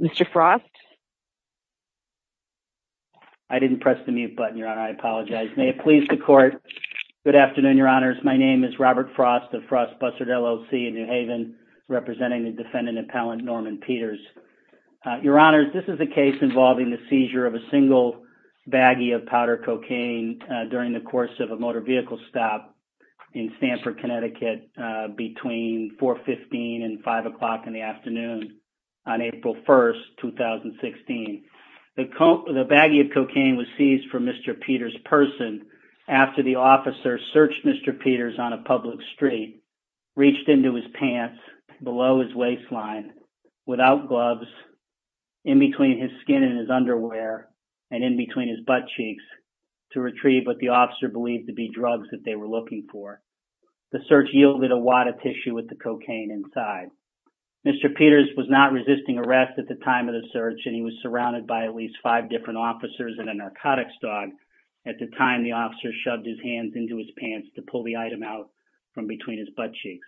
Mr. Frost? I didn't press the mute button, Your Honor. I apologize. May it please the Court. Good afternoon, Your Honors. My name is Robert Frost of Frost Bussard LLC in New Haven, representing the defendant appellant Norman Peters. Your Honors, this is a case involving the seizure of a single baggie of powder cocaine during the course of a motor vehicle stop in Stamford, Connecticut between 415 and 5 o'clock in the afternoon on April 1st, 2016. The baggie of cocaine was seized from Mr. Peters' person after the officer searched Mr. Peters on a public street, reached into his pants below his waistline without gloves, in between his skin and his underwear, and in between his butt cheeks to retrieve what the drugs that they were looking for. The search yielded a wad of tissue with the cocaine inside. Mr. Peters was not resisting arrest at the time of the search, and he was surrounded by at least five different officers and a narcotics dog. At the time, the officer shoved his hands into his pants to pull the item out from between his butt cheeks.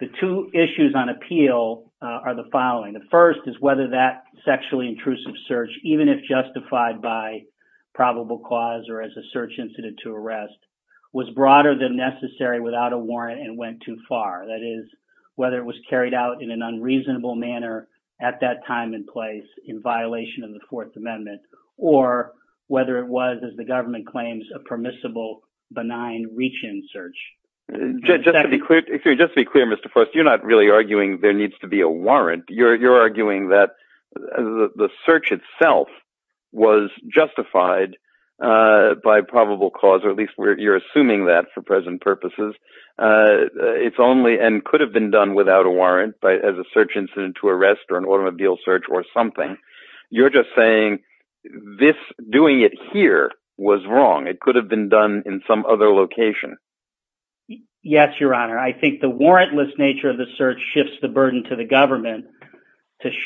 The two issues on appeal are the following. The first is whether that sexually intrusive search, even if justified by probable cause or as a search incident to arrest, was broader than necessary without a warrant and went too far. That is, whether it was carried out in an unreasonable manner at that time and place in violation of the Fourth Amendment, or whether it was, as the government claims, a permissible benign reach-in search. Just to be clear, Mr. Forrest, you're not really arguing there needs to be a warrantless nature of the search shifts the burden to the government to show that it was a warrant. I think when you look at the cases and the facts of this case, what's most troubling is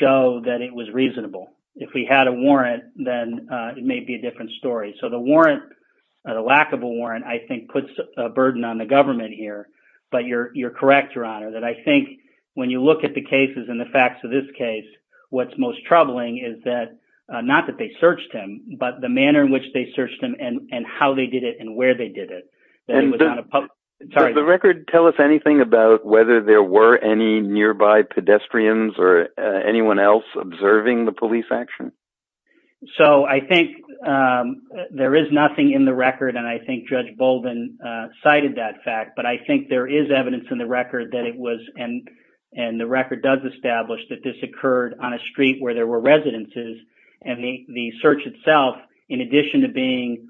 not that they searched him, but the manner in which they searched him and how they did it and where they did it. Does the record tell us anything about whether there were any nearby pedestrians or anyone else observing the police action? So I think there is nothing in the record, and I think Judge Bolden cited that fact, but I think there is evidence in the record that it was, and the record does establish, that this occurred on a street where there were residences, and the search itself, in addition to being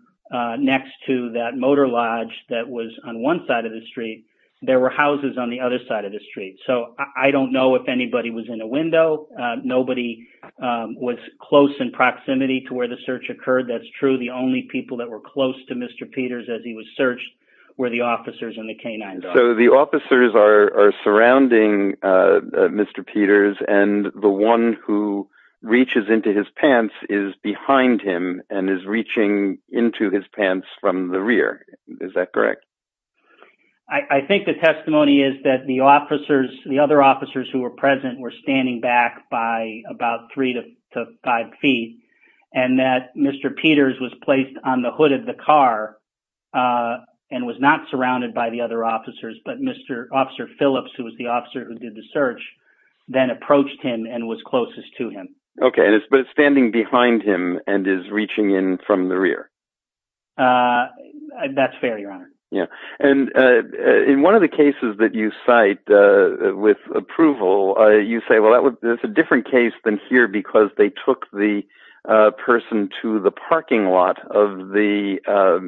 next to that motor lodge that was on one side of the street, there were houses on the other side of the street. So I don't know if anybody was in a window. Nobody was close in proximity to where the search occurred. That's true. The only people that were close to Mr. Peters as he was searched were the officers and the canines. So the officers are surrounding Mr. Peters, and the one who reaches into his pants is behind him and is reaching into his pants from the rear. Is that correct? I think the testimony is that the officers, the other officers who were present, were standing back by about three to five feet, and that Mr. Peters was placed on the hood of the car and was not surrounded by the other officers, but Officer Phillips, who was the officer who did the search, then approached him and was closest to him. Okay, but it's standing behind him and is reaching in from the rear. That's fair, Your Honor. And in one of the cases that you cite with approval, you say, well, that's a different case than here because they took the person to the parking lot of the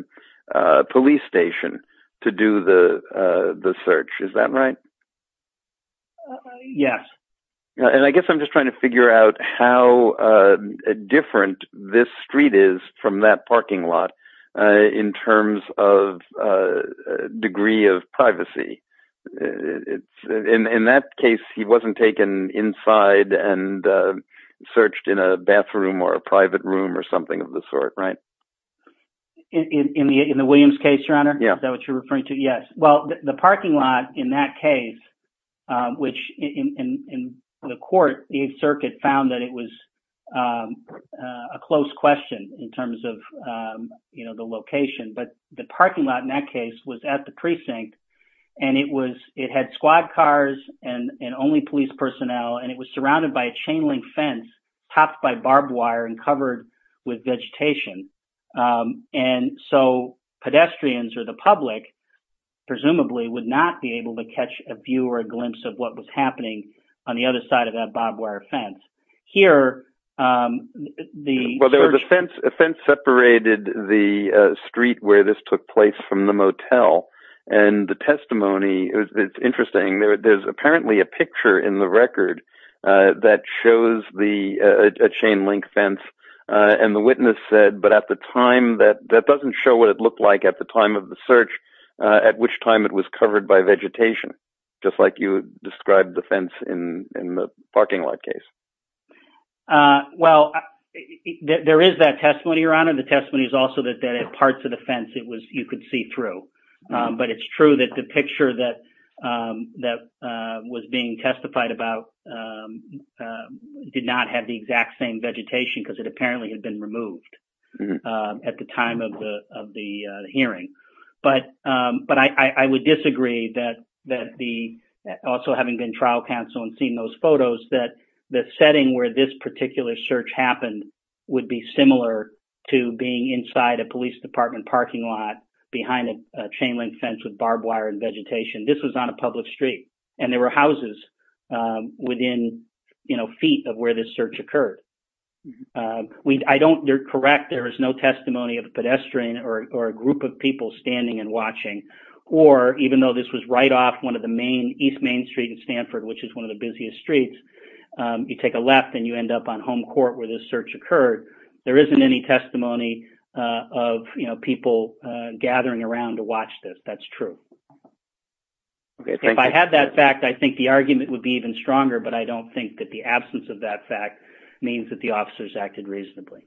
police station to do the search. Is that right? Yes. And I guess I'm just trying to figure out how different this street is from that parking lot in terms of degree of privacy. In that case, he wasn't taken inside and searched in a bathroom or a private room or something of the sort, right? In the Williams case, Your Honor? Yeah. Is that what you're referring to? Yes. Well, the parking lot in that case, which in the court, the Eighth Circuit found that it was a close question in terms of the location. But the parking lot in that case was at the precinct and it had squad cars and only police personnel, and it was surrounded by a chain link fence topped by barbed wire and covered with vegetation. And so pedestrians or the public, presumably, would not be able to catch a view or a glimpse of what was happening on the other side of that barbed wire fence. Here, the... Well, there was a fence separated the street where this took place from the motel. And the testimony, it's interesting, there's apparently a picture in the record that shows a chain link fence. And the witness said, but at the time, that doesn't show what it looked like at the time of the search, at which time it was covered by vegetation, just like you described the fence in the parking lot case. Well, there is that testimony, Your Honor. The testimony is also that parts of the fence, you could see through. But it's true that the picture that was being testified about did not have the exact same vegetation because it apparently had been removed at the time of the hearing. But I would disagree that also having been trial counsel and seeing those photos that the setting where this particular search happened would be similar to being inside a police department parking lot behind a chain link fence with barbed wire and vegetation. This was on a public street and there were houses within feet of where this search occurred. I don't... They're correct. There is no testimony of a pedestrian or a group of people standing and watching. Or even though this was right off one of the main... East Main Street in Stanford, which is one of the busiest streets, you take a left and you end up on Home Court where this search occurred. There isn't any testimony of people gathering around to watch this. That's true. If I had that fact, I think the argument would be even stronger, but I don't think that the absence of that fact means that the officers acted reasonably.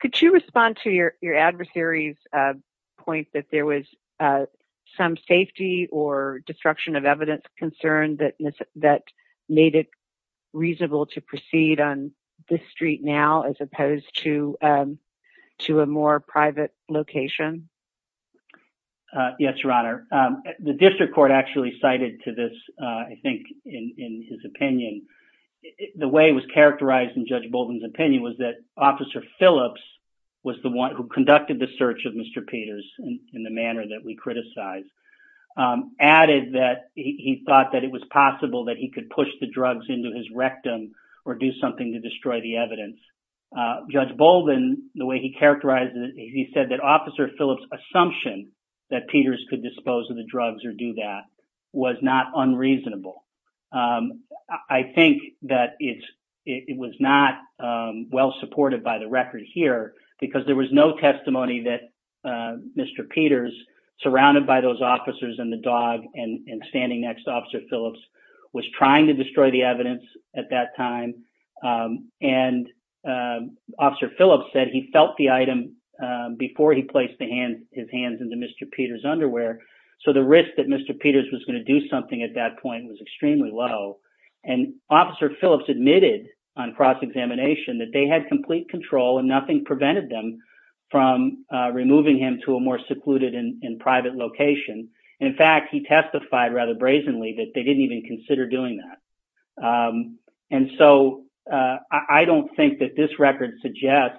Could you respond to your adversary's point that there was some safety or destruction of evidence concern that made it reasonable to proceed on this street now as opposed to a more private location? Yes, Your Honor. The district court actually cited to this, I think, in his opinion. The way it was characterized in Judge Bolden's opinion was that Officer Phillips was the one who conducted the search of Mr. Peters in the manner that we criticized. Added that he thought that it was possible that he could push the drugs into his rectum or do something to destroy the evidence. Judge Bolden, the way he characterized it, he said that Officer Phillips' assumption that Peters could dispose of the drugs or do that was not unreasonable. I think that it was not well supported by the record here because there was no testimony that Mr. Peters, surrounded by those officers and the dog and standing next to Officer Phillips, was trying to destroy the evidence at that time. Officer Phillips said he felt the item before he placed his hands into Mr. Peters' underwear, so the risk that Mr. Peters was going to do something at that point was extremely low. Officer Phillips admitted on cross-examination that they had complete control and nothing prevented them from removing him to a more secluded and private location. In fact, he testified rather brazenly that they didn't even consider doing that. I don't think that this record suggests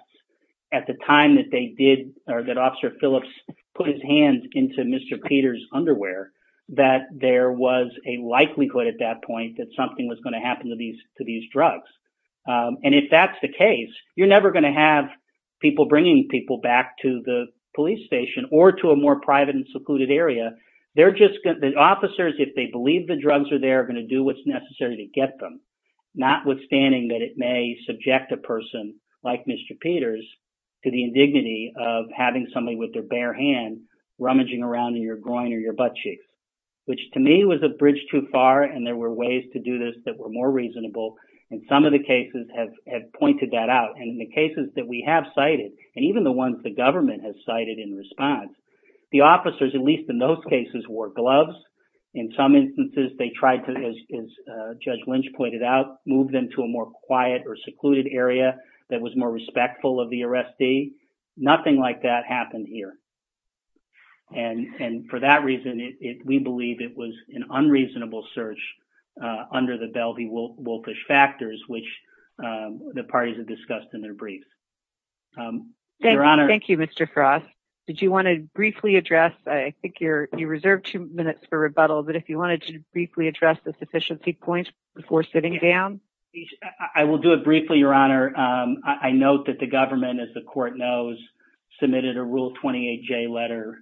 at the time that they did or that Officer Phillips put his hands into Mr. Peters' underwear that there was a likelihood at that point that something was going to happen to these drugs. If that's the case, you're never going to have people bringing people back to the police station or to a more private and secluded area. The officers, if they believe the drugs are there, are going to do what's necessary to get them, notwithstanding that it may subject a person like Mr. Peters to the indignity of having somebody with their bare hand rummaging around in your groin or your butt cheeks, which to me was a bridge too far and there were ways to do this that were more reasonable. Some of the cases have pointed that out. In the cases that we have cited, and even the ones the government has cited in response, the officers, at least in those cases, wore gloves. In some instances, they tried to, as Judge Lynch pointed out, move them to a more quiet or secluded area that was more respectful of the arrestee. Nothing like that happened here. And for that reason, we believe it was an unreasonable search under the Belvey-Wolfish factors, which the parties have discussed in their briefs. Thank you, Mr. Frost. Did you want to briefly address, I think you reserved two minutes for rebuttal, but if you wanted to briefly address the sufficiency point before sitting down? I will do it briefly, Your Honor. I note that the government, as the court knows, submitted a Rule 28J letter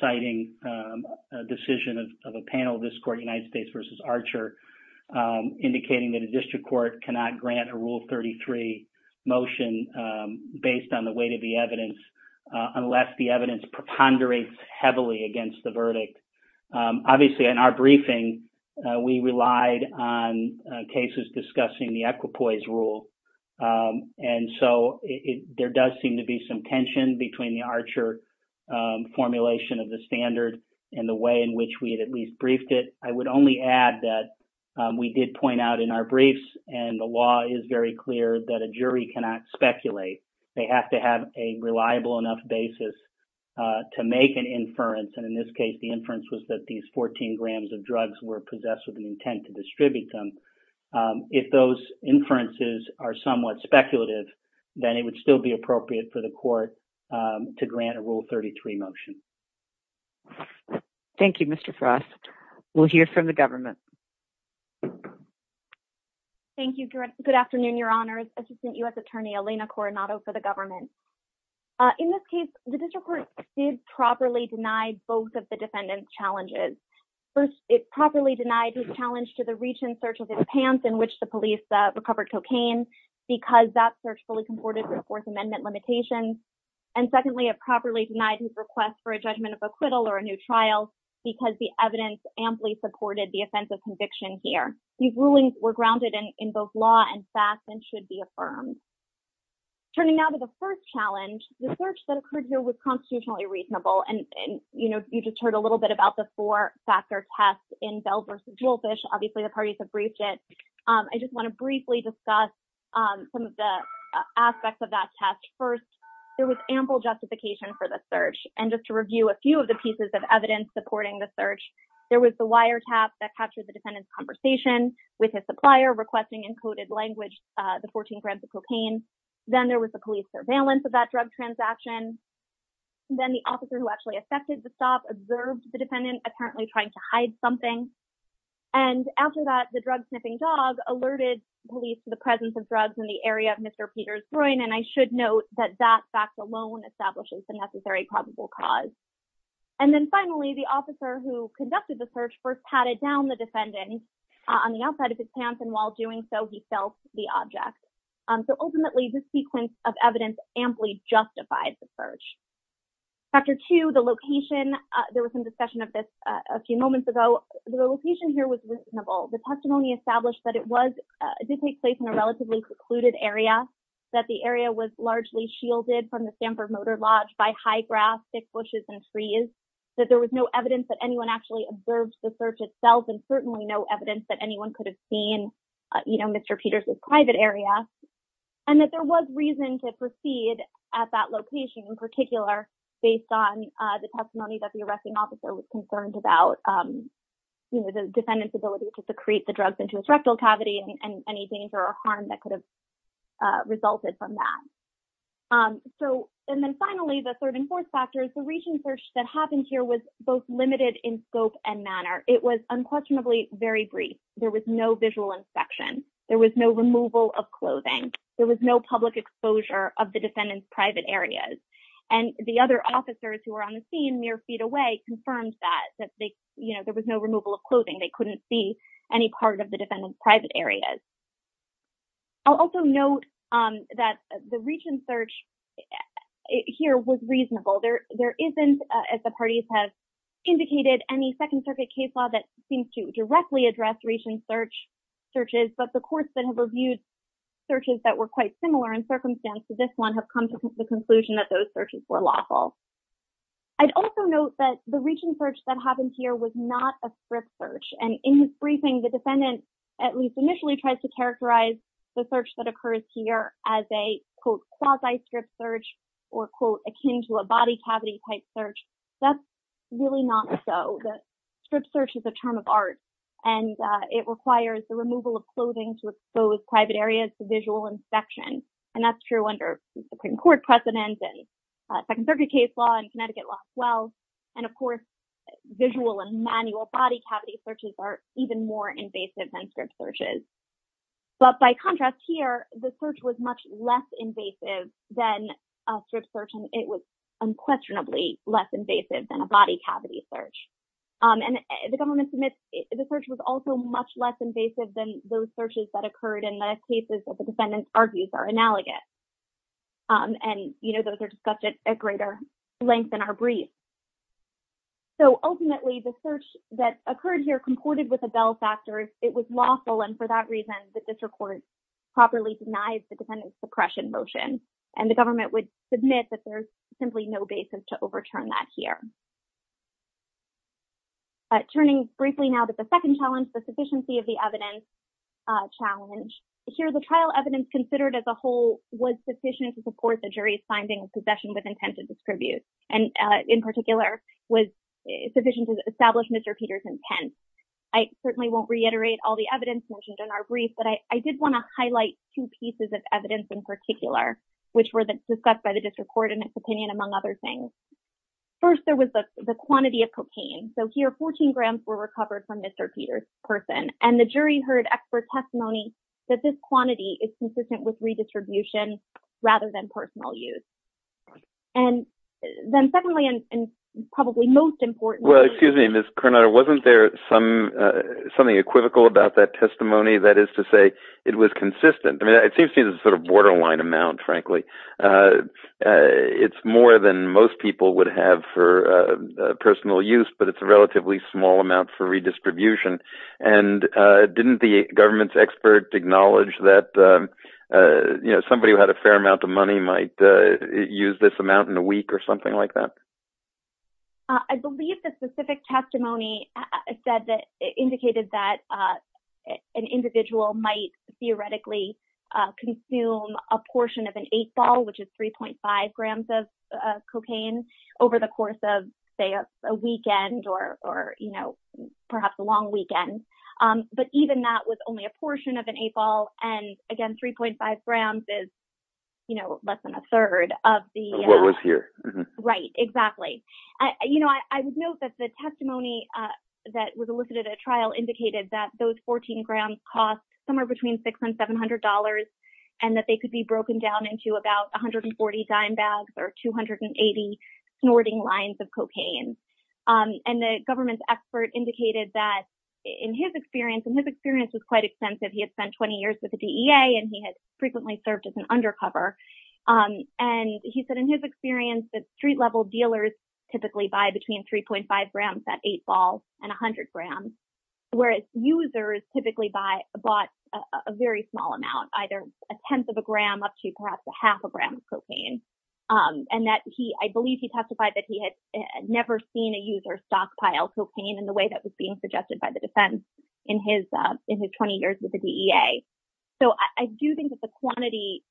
citing a decision of a panel of this court, United States v. Archer, indicating that a district court cannot grant a Rule 33 motion based on the weight of the evidence unless the evidence preponderates heavily against the verdict. Obviously, in our briefing, we relied on cases discussing the equipoise rule, and so there does seem to be some tension between the Archer formulation of the standard and the way in which we at least briefed it. I would only add that we did point out in our briefs, and the law is very clear, that a jury cannot speculate. They have to have a reliable enough basis to make an inference, and in this case, the inference was that these 14 grams of drugs were possessed with an intent to distribute them. If those inferences are somewhat speculative, then it would still be appropriate for the court to grant a Rule 33 motion. Thank you, Mr. Frost. We'll hear from the government. Thank you. Good afternoon, Your Honors. Assistant U.S. Attorney Elena Coronado for the government. In this case, the district court did properly deny both of the defendant's challenges. First, it properly denied his challenge to the recent search of his pants in which the police recovered cocaine because that search fully comported to the Fourth Amendment limitations, and secondly, it properly denied his request for a judgment of acquittal or a new trial because the evidence amply supported the offense of conviction here. These rulings were grounded in both law and facts and should be affirmed. Turning now to the first challenge, the search that occurred here was constitutionally reasonable, and, you know, you just heard a little bit about the four-factor test in Bell v. Woolfish. Obviously, the parties have briefed it. I just want to briefly discuss some of the aspects of that test. First, there was ample justification for the search, and just to review a few of the pieces of evidence supporting the search, there was the wiretap that captured the defendant's conversation with his supplier requesting encoded language, the 14 grams of cocaine. Then there was the police surveillance of that drug transaction. Then the officer who actually accepted the stop observed the defendant apparently trying to hide something, and after that, the drug-sniffing dog alerted police to presence of drugs in the area of Mr. Peters' groin, and I should note that that fact alone establishes the necessary probable cause. And then finally, the officer who conducted the search first patted down the defendant on the outside of his pants, and while doing so, he felt the object. So ultimately, this sequence of evidence amply justified the search. Factor two, the location. There was some discussion of this a few moments ago. The testimony established that it did take place in a relatively secluded area, that the area was largely shielded from the Stanford Motor Lodge by high grass, thick bushes, and trees, that there was no evidence that anyone actually observed the search itself, and certainly no evidence that anyone could have seen Mr. Peters' private area, and that there was reason to proceed at that location in particular based on the testimony that the arresting officer was concerned about the defendant's ability to secrete the drugs into his rectal cavity and any danger or harm that could have resulted from that. And then finally, the third and fourth factors, the region search that happened here was both limited in scope and manner. It was unquestionably very brief. There was no visual inspection. There was no removal of clothing. There was no public exposure of the defendant's private areas, and the other officers who were on the scene mere feet away confirmed that there was no removal of clothing. They couldn't see any part of the defendant's private areas. I'll also note that the region search here was reasonable. There isn't, as the parties have indicated, any Second Circuit case law that seems to directly address region searches, but the courts that have reviewed searches that were quite similar in circumstance to this one have come to the conclusion that those searches were lawful. I'd also note that the region search that happened here was not a strip search, and in his briefing, the defendant at least initially tries to characterize the search that occurs here as a, quote, quasi-strip search or, quote, akin to a body cavity type search. That's really not so. Strip search is a term of art, and it requires the removal of clothing to expose private areas to visual inspection, and that's true under Supreme Court precedent and Second Circuit case law and Connecticut law as well, and of course, visual and manual body cavity searches are even more invasive than strip searches, but by contrast here, the search was much less invasive than a strip search, and it was unquestionably less invasive than a body those searches that occurred in the cases that the defendant argues are analogous, and, you know, those are discussed at greater length in our brief. So, ultimately, the search that occurred here comported with the Bell factors. It was lawful, and for that reason, the district court properly denies the defendant's suppression motion, and the government would submit that there's simply no basis to overturn that here. Turning briefly now to the second challenge, the sufficiency of the evidence challenge. Here, the trial evidence considered as a whole was sufficient to support the jury's finding of possession with intent to distribute, and in particular, was sufficient to establish Mr. Peters' intent. I certainly won't reiterate all the evidence mentioned in our brief, but I did want to highlight two pieces of evidence in particular, which were discussed by the district court in its opinion, among other things. First, there was a lack of evidence to support the quantity of cocaine. So, here, 14 grams were recovered from Mr. Peters' person, and the jury heard expert testimony that this quantity is consistent with redistribution rather than personal use. And then, secondly, and probably most importantly— Well, excuse me, Ms. Coronado, wasn't there something equivocal about that testimony, that is to say, it was consistent? I mean, it seems to be a sort of borderline amount, frankly. It's more than most people would have for personal use, but it's a relatively small amount for redistribution. And didn't the government's expert acknowledge that somebody who had a fair amount of money might use this amount in a week or something like that? I believe the specific testimony indicated that an individual might theoretically consume a portion of an 8-ball, which is 3.5 grams of cocaine, over the course of, say, a weekend or perhaps a long weekend. But even that was only a portion of an 8-ball. And again, 3.5 grams is less than a third of the— Of what was here. Right, exactly. I would note that the testimony that was elicited at trial indicated that those were $700, and that they could be broken down into about 140 dime bags or 280 snorting lines of cocaine. And the government's expert indicated that in his experience—and his experience was quite extensive. He had spent 20 years with the DEA, and he had frequently served as an undercover. And he said in his experience that street-level dealers typically buy between 3.5 grams, that 8-ball, and 100 grams, whereas users typically buy, bought a very small amount, either a tenth of a gram up to perhaps a half a gram of cocaine. And that he—I believe he testified that he had never seen a user stockpile cocaine in the way that was being suggested by the defense in his 20 years with the DEA. So, I do think that the quantity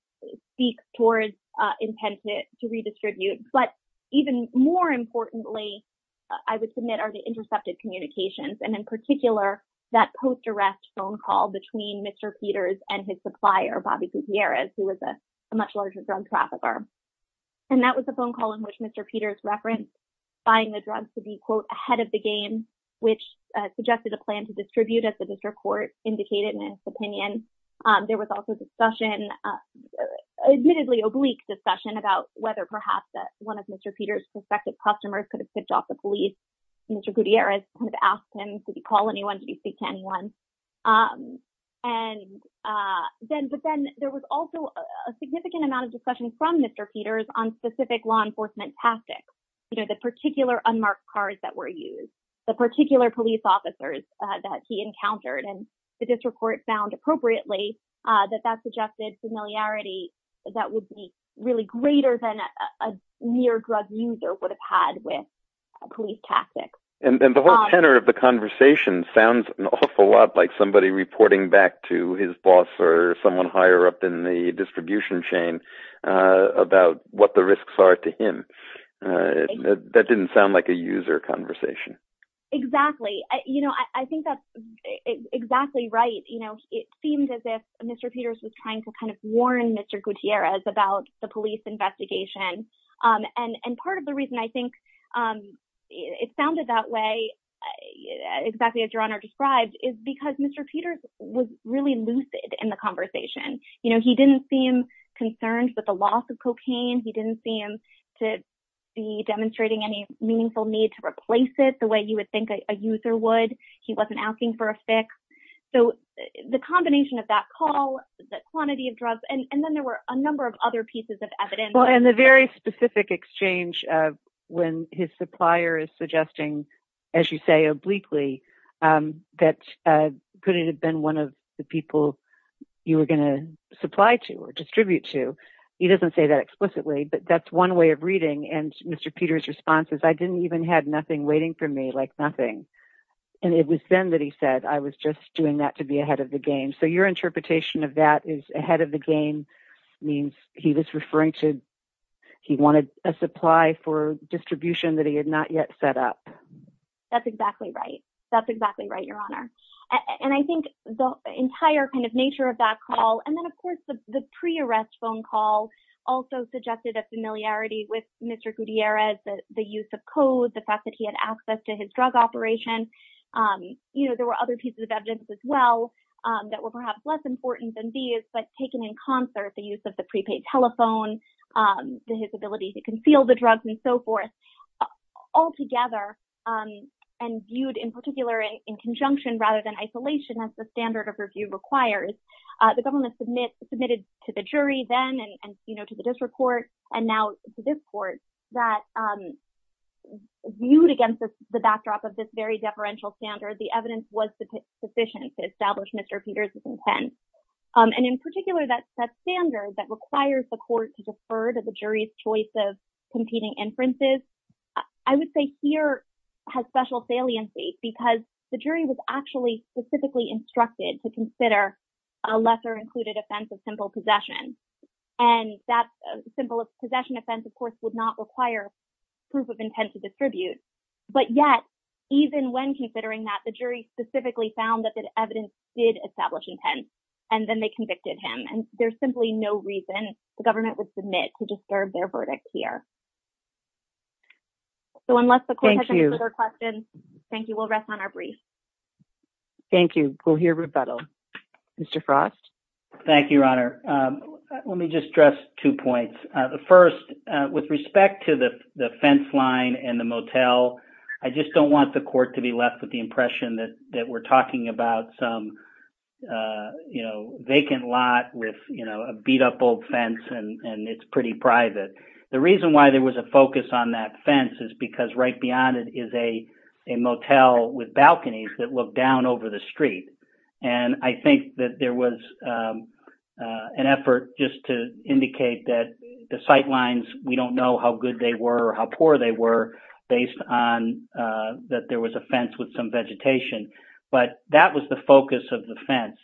speaks towards intent to redistribute. But even more importantly, I would submit are intercepted communications, and in particular, that post-arrest phone call between Mr. Peters and his supplier, Bobby Gutierrez, who was a much larger drug trafficker. And that was a phone call in which Mr. Peters referenced buying the drugs to be, quote, ahead of the game, which suggested a plan to distribute, as the district court indicated in its opinion. There was also discussion—admittedly oblique discussion—about whether perhaps one of Mr. Peters' customers could have kicked off the police. Mr. Gutierrez kind of asked him, did he call anyone? Did he speak to anyone? And then—but then there was also a significant amount of discussion from Mr. Peters on specific law enforcement tactics. You know, the particular unmarked cars that were used, the particular police officers that he encountered. And the district court found, appropriately, that that suggested familiarity that would be really greater than a near-drug user would have had with police tactics. And the whole tenor of the conversation sounds an awful lot like somebody reporting back to his boss or someone higher up in the distribution chain about what the risks are to him. That didn't sound like a user conversation. Exactly. You know, I think that's exactly right. You know, it seemed as if Mr. Peters was trying to kind of warn Mr. Gutierrez about the police investigation. And part of the reason I think it sounded that way, exactly as Your Honor described, is because Mr. Peters was really lucid in the conversation. You know, he didn't seem concerned with the loss of cocaine. He didn't seem to be demonstrating any meaningful need to replace it the way you would think a user would. He wasn't asking for a fix. So the combination of that call, the quantity of drugs, and then there were a number of other pieces of evidence. Well, and the very specific exchange when his supplier is suggesting, as you say, obliquely, that could it have been one of the people you were going to supply to or distribute to. He doesn't say that explicitly, but that's one way of reading. And Mr. Peters' response is, I didn't even have nothing waiting for me, like nothing. And it was then that he said, I was just doing that to be ahead of the game. So your interpretation of that is ahead of the game means he was referring to, he wanted a supply for distribution that he had not yet set up. That's exactly right. That's exactly right, Your Honor. And I think the entire kind of nature of that call, and then of course, the pre-arrest phone call also suggested a familiarity with Mr. Gutierrez, the use of code, the fact that he had access to his drug operation. There were other pieces of evidence as well that were perhaps less important than these, but taken in concert, the use of the prepaid telephone, his ability to conceal the drugs and so forth, all together, and viewed in particular in conjunction rather than isolation as the standard of review requires. The government submitted to the jury then and to the district court and now to this court that viewed against the backdrop of this very deferential standard, the evidence was sufficient to establish Mr. Peters' intent. And in particular, that standard that requires the court to defer to the jury's choice of competing inferences, I would say here has special saliency because the jury was actually specifically instructed to consider a lesser included offense of simple possession. And that simple possession offense, of course, would not require proof of intent to distribute. But yet, even when considering that, the jury specifically found that the evidence did establish intent, and then they convicted him. And there's simply no reason the government would submit to disturb their verdict here. So unless the court has any further questions, thank you. We'll rest on our brief. Thank you. We'll hear rebuttal. Mr. Frost? Thank you, Your Honor. Let me just stress two points. The first, with respect to the fence line and the motel, I just don't want the court to be left with the impression that we're talking about some, you know, vacant lot with, you know, a beat-up old fence, and it's pretty private. The reason why there was a focus on that fence is because right beyond it is a motel with balconies that look down over the street. And I think that there was an effort just to indicate that the sight lines, we don't know how good they were or how poor they were based on that there was a fence with some vegetation. But that was the focus of the fence.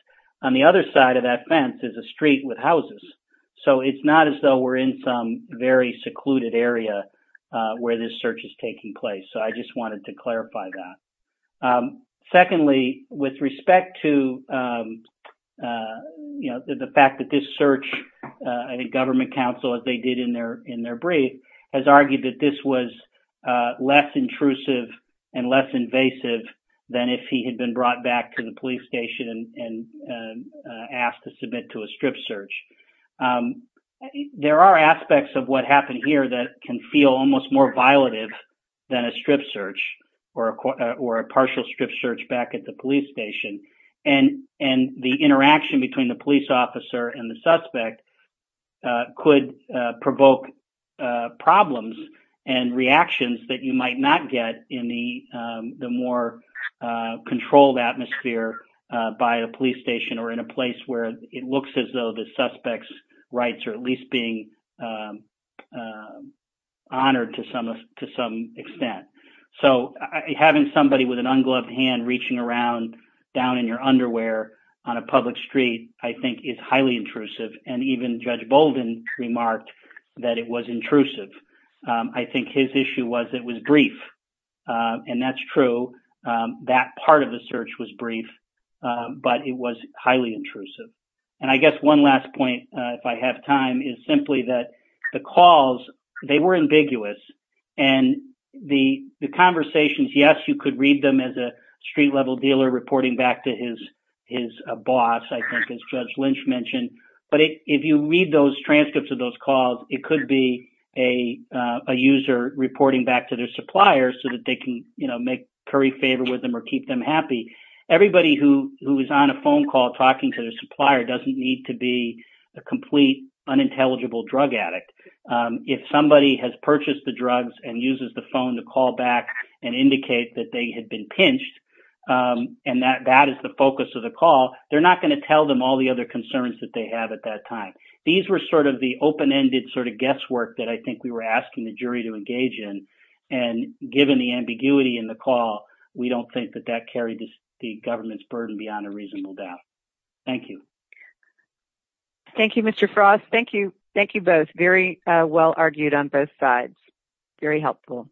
On the other side of that fence is a street with houses. So it's not as though we're in some very secluded area where this search is taking place. So I just respect to, you know, the fact that this search, I think government counsel, as they did in their brief, has argued that this was less intrusive and less invasive than if he had been brought back to the police station and asked to submit to a strip search. There are aspects of what happened here that can feel almost more violative than a strip search or a partial strip search back at the police station. And the interaction between the police officer and the suspect could provoke problems and reactions that you might not get in the more controlled atmosphere by a police station or in a place where it looks as though the suspect's rights are at least being around down in your underwear on a public street, I think is highly intrusive. And even Judge Bolden remarked that it was intrusive. I think his issue was it was brief. And that's true. That part of the search was brief. But it was highly intrusive. And I guess one last point, if I have time, is simply that the calls, they were ambiguous. And the conversations, yes, you could read them as a street-level dealer reporting back to his boss, I think, as Judge Lynch mentioned. But if you read those transcripts of those calls, it could be a user reporting back to their supplier so that they can, you know, make curry favor with them or keep them happy. Everybody who is on a phone call talking to their supplier doesn't need to be a complete unintelligible drug addict. If somebody has purchased the drugs and uses the phone to call back and indicate that they had been pinched, and that is the focus of the call, they're not going to tell them all the other concerns that they have at that time. These were sort of the open-ended sort of guesswork that I think we were asking the jury to engage in. And given the ambiguity in the call, we don't think that that carried the government's burden beyond a reasonable doubt. Thank you. Thank you, Mr. Frost. Thank you. Thank you both. Very well argued on both sides. Very helpful.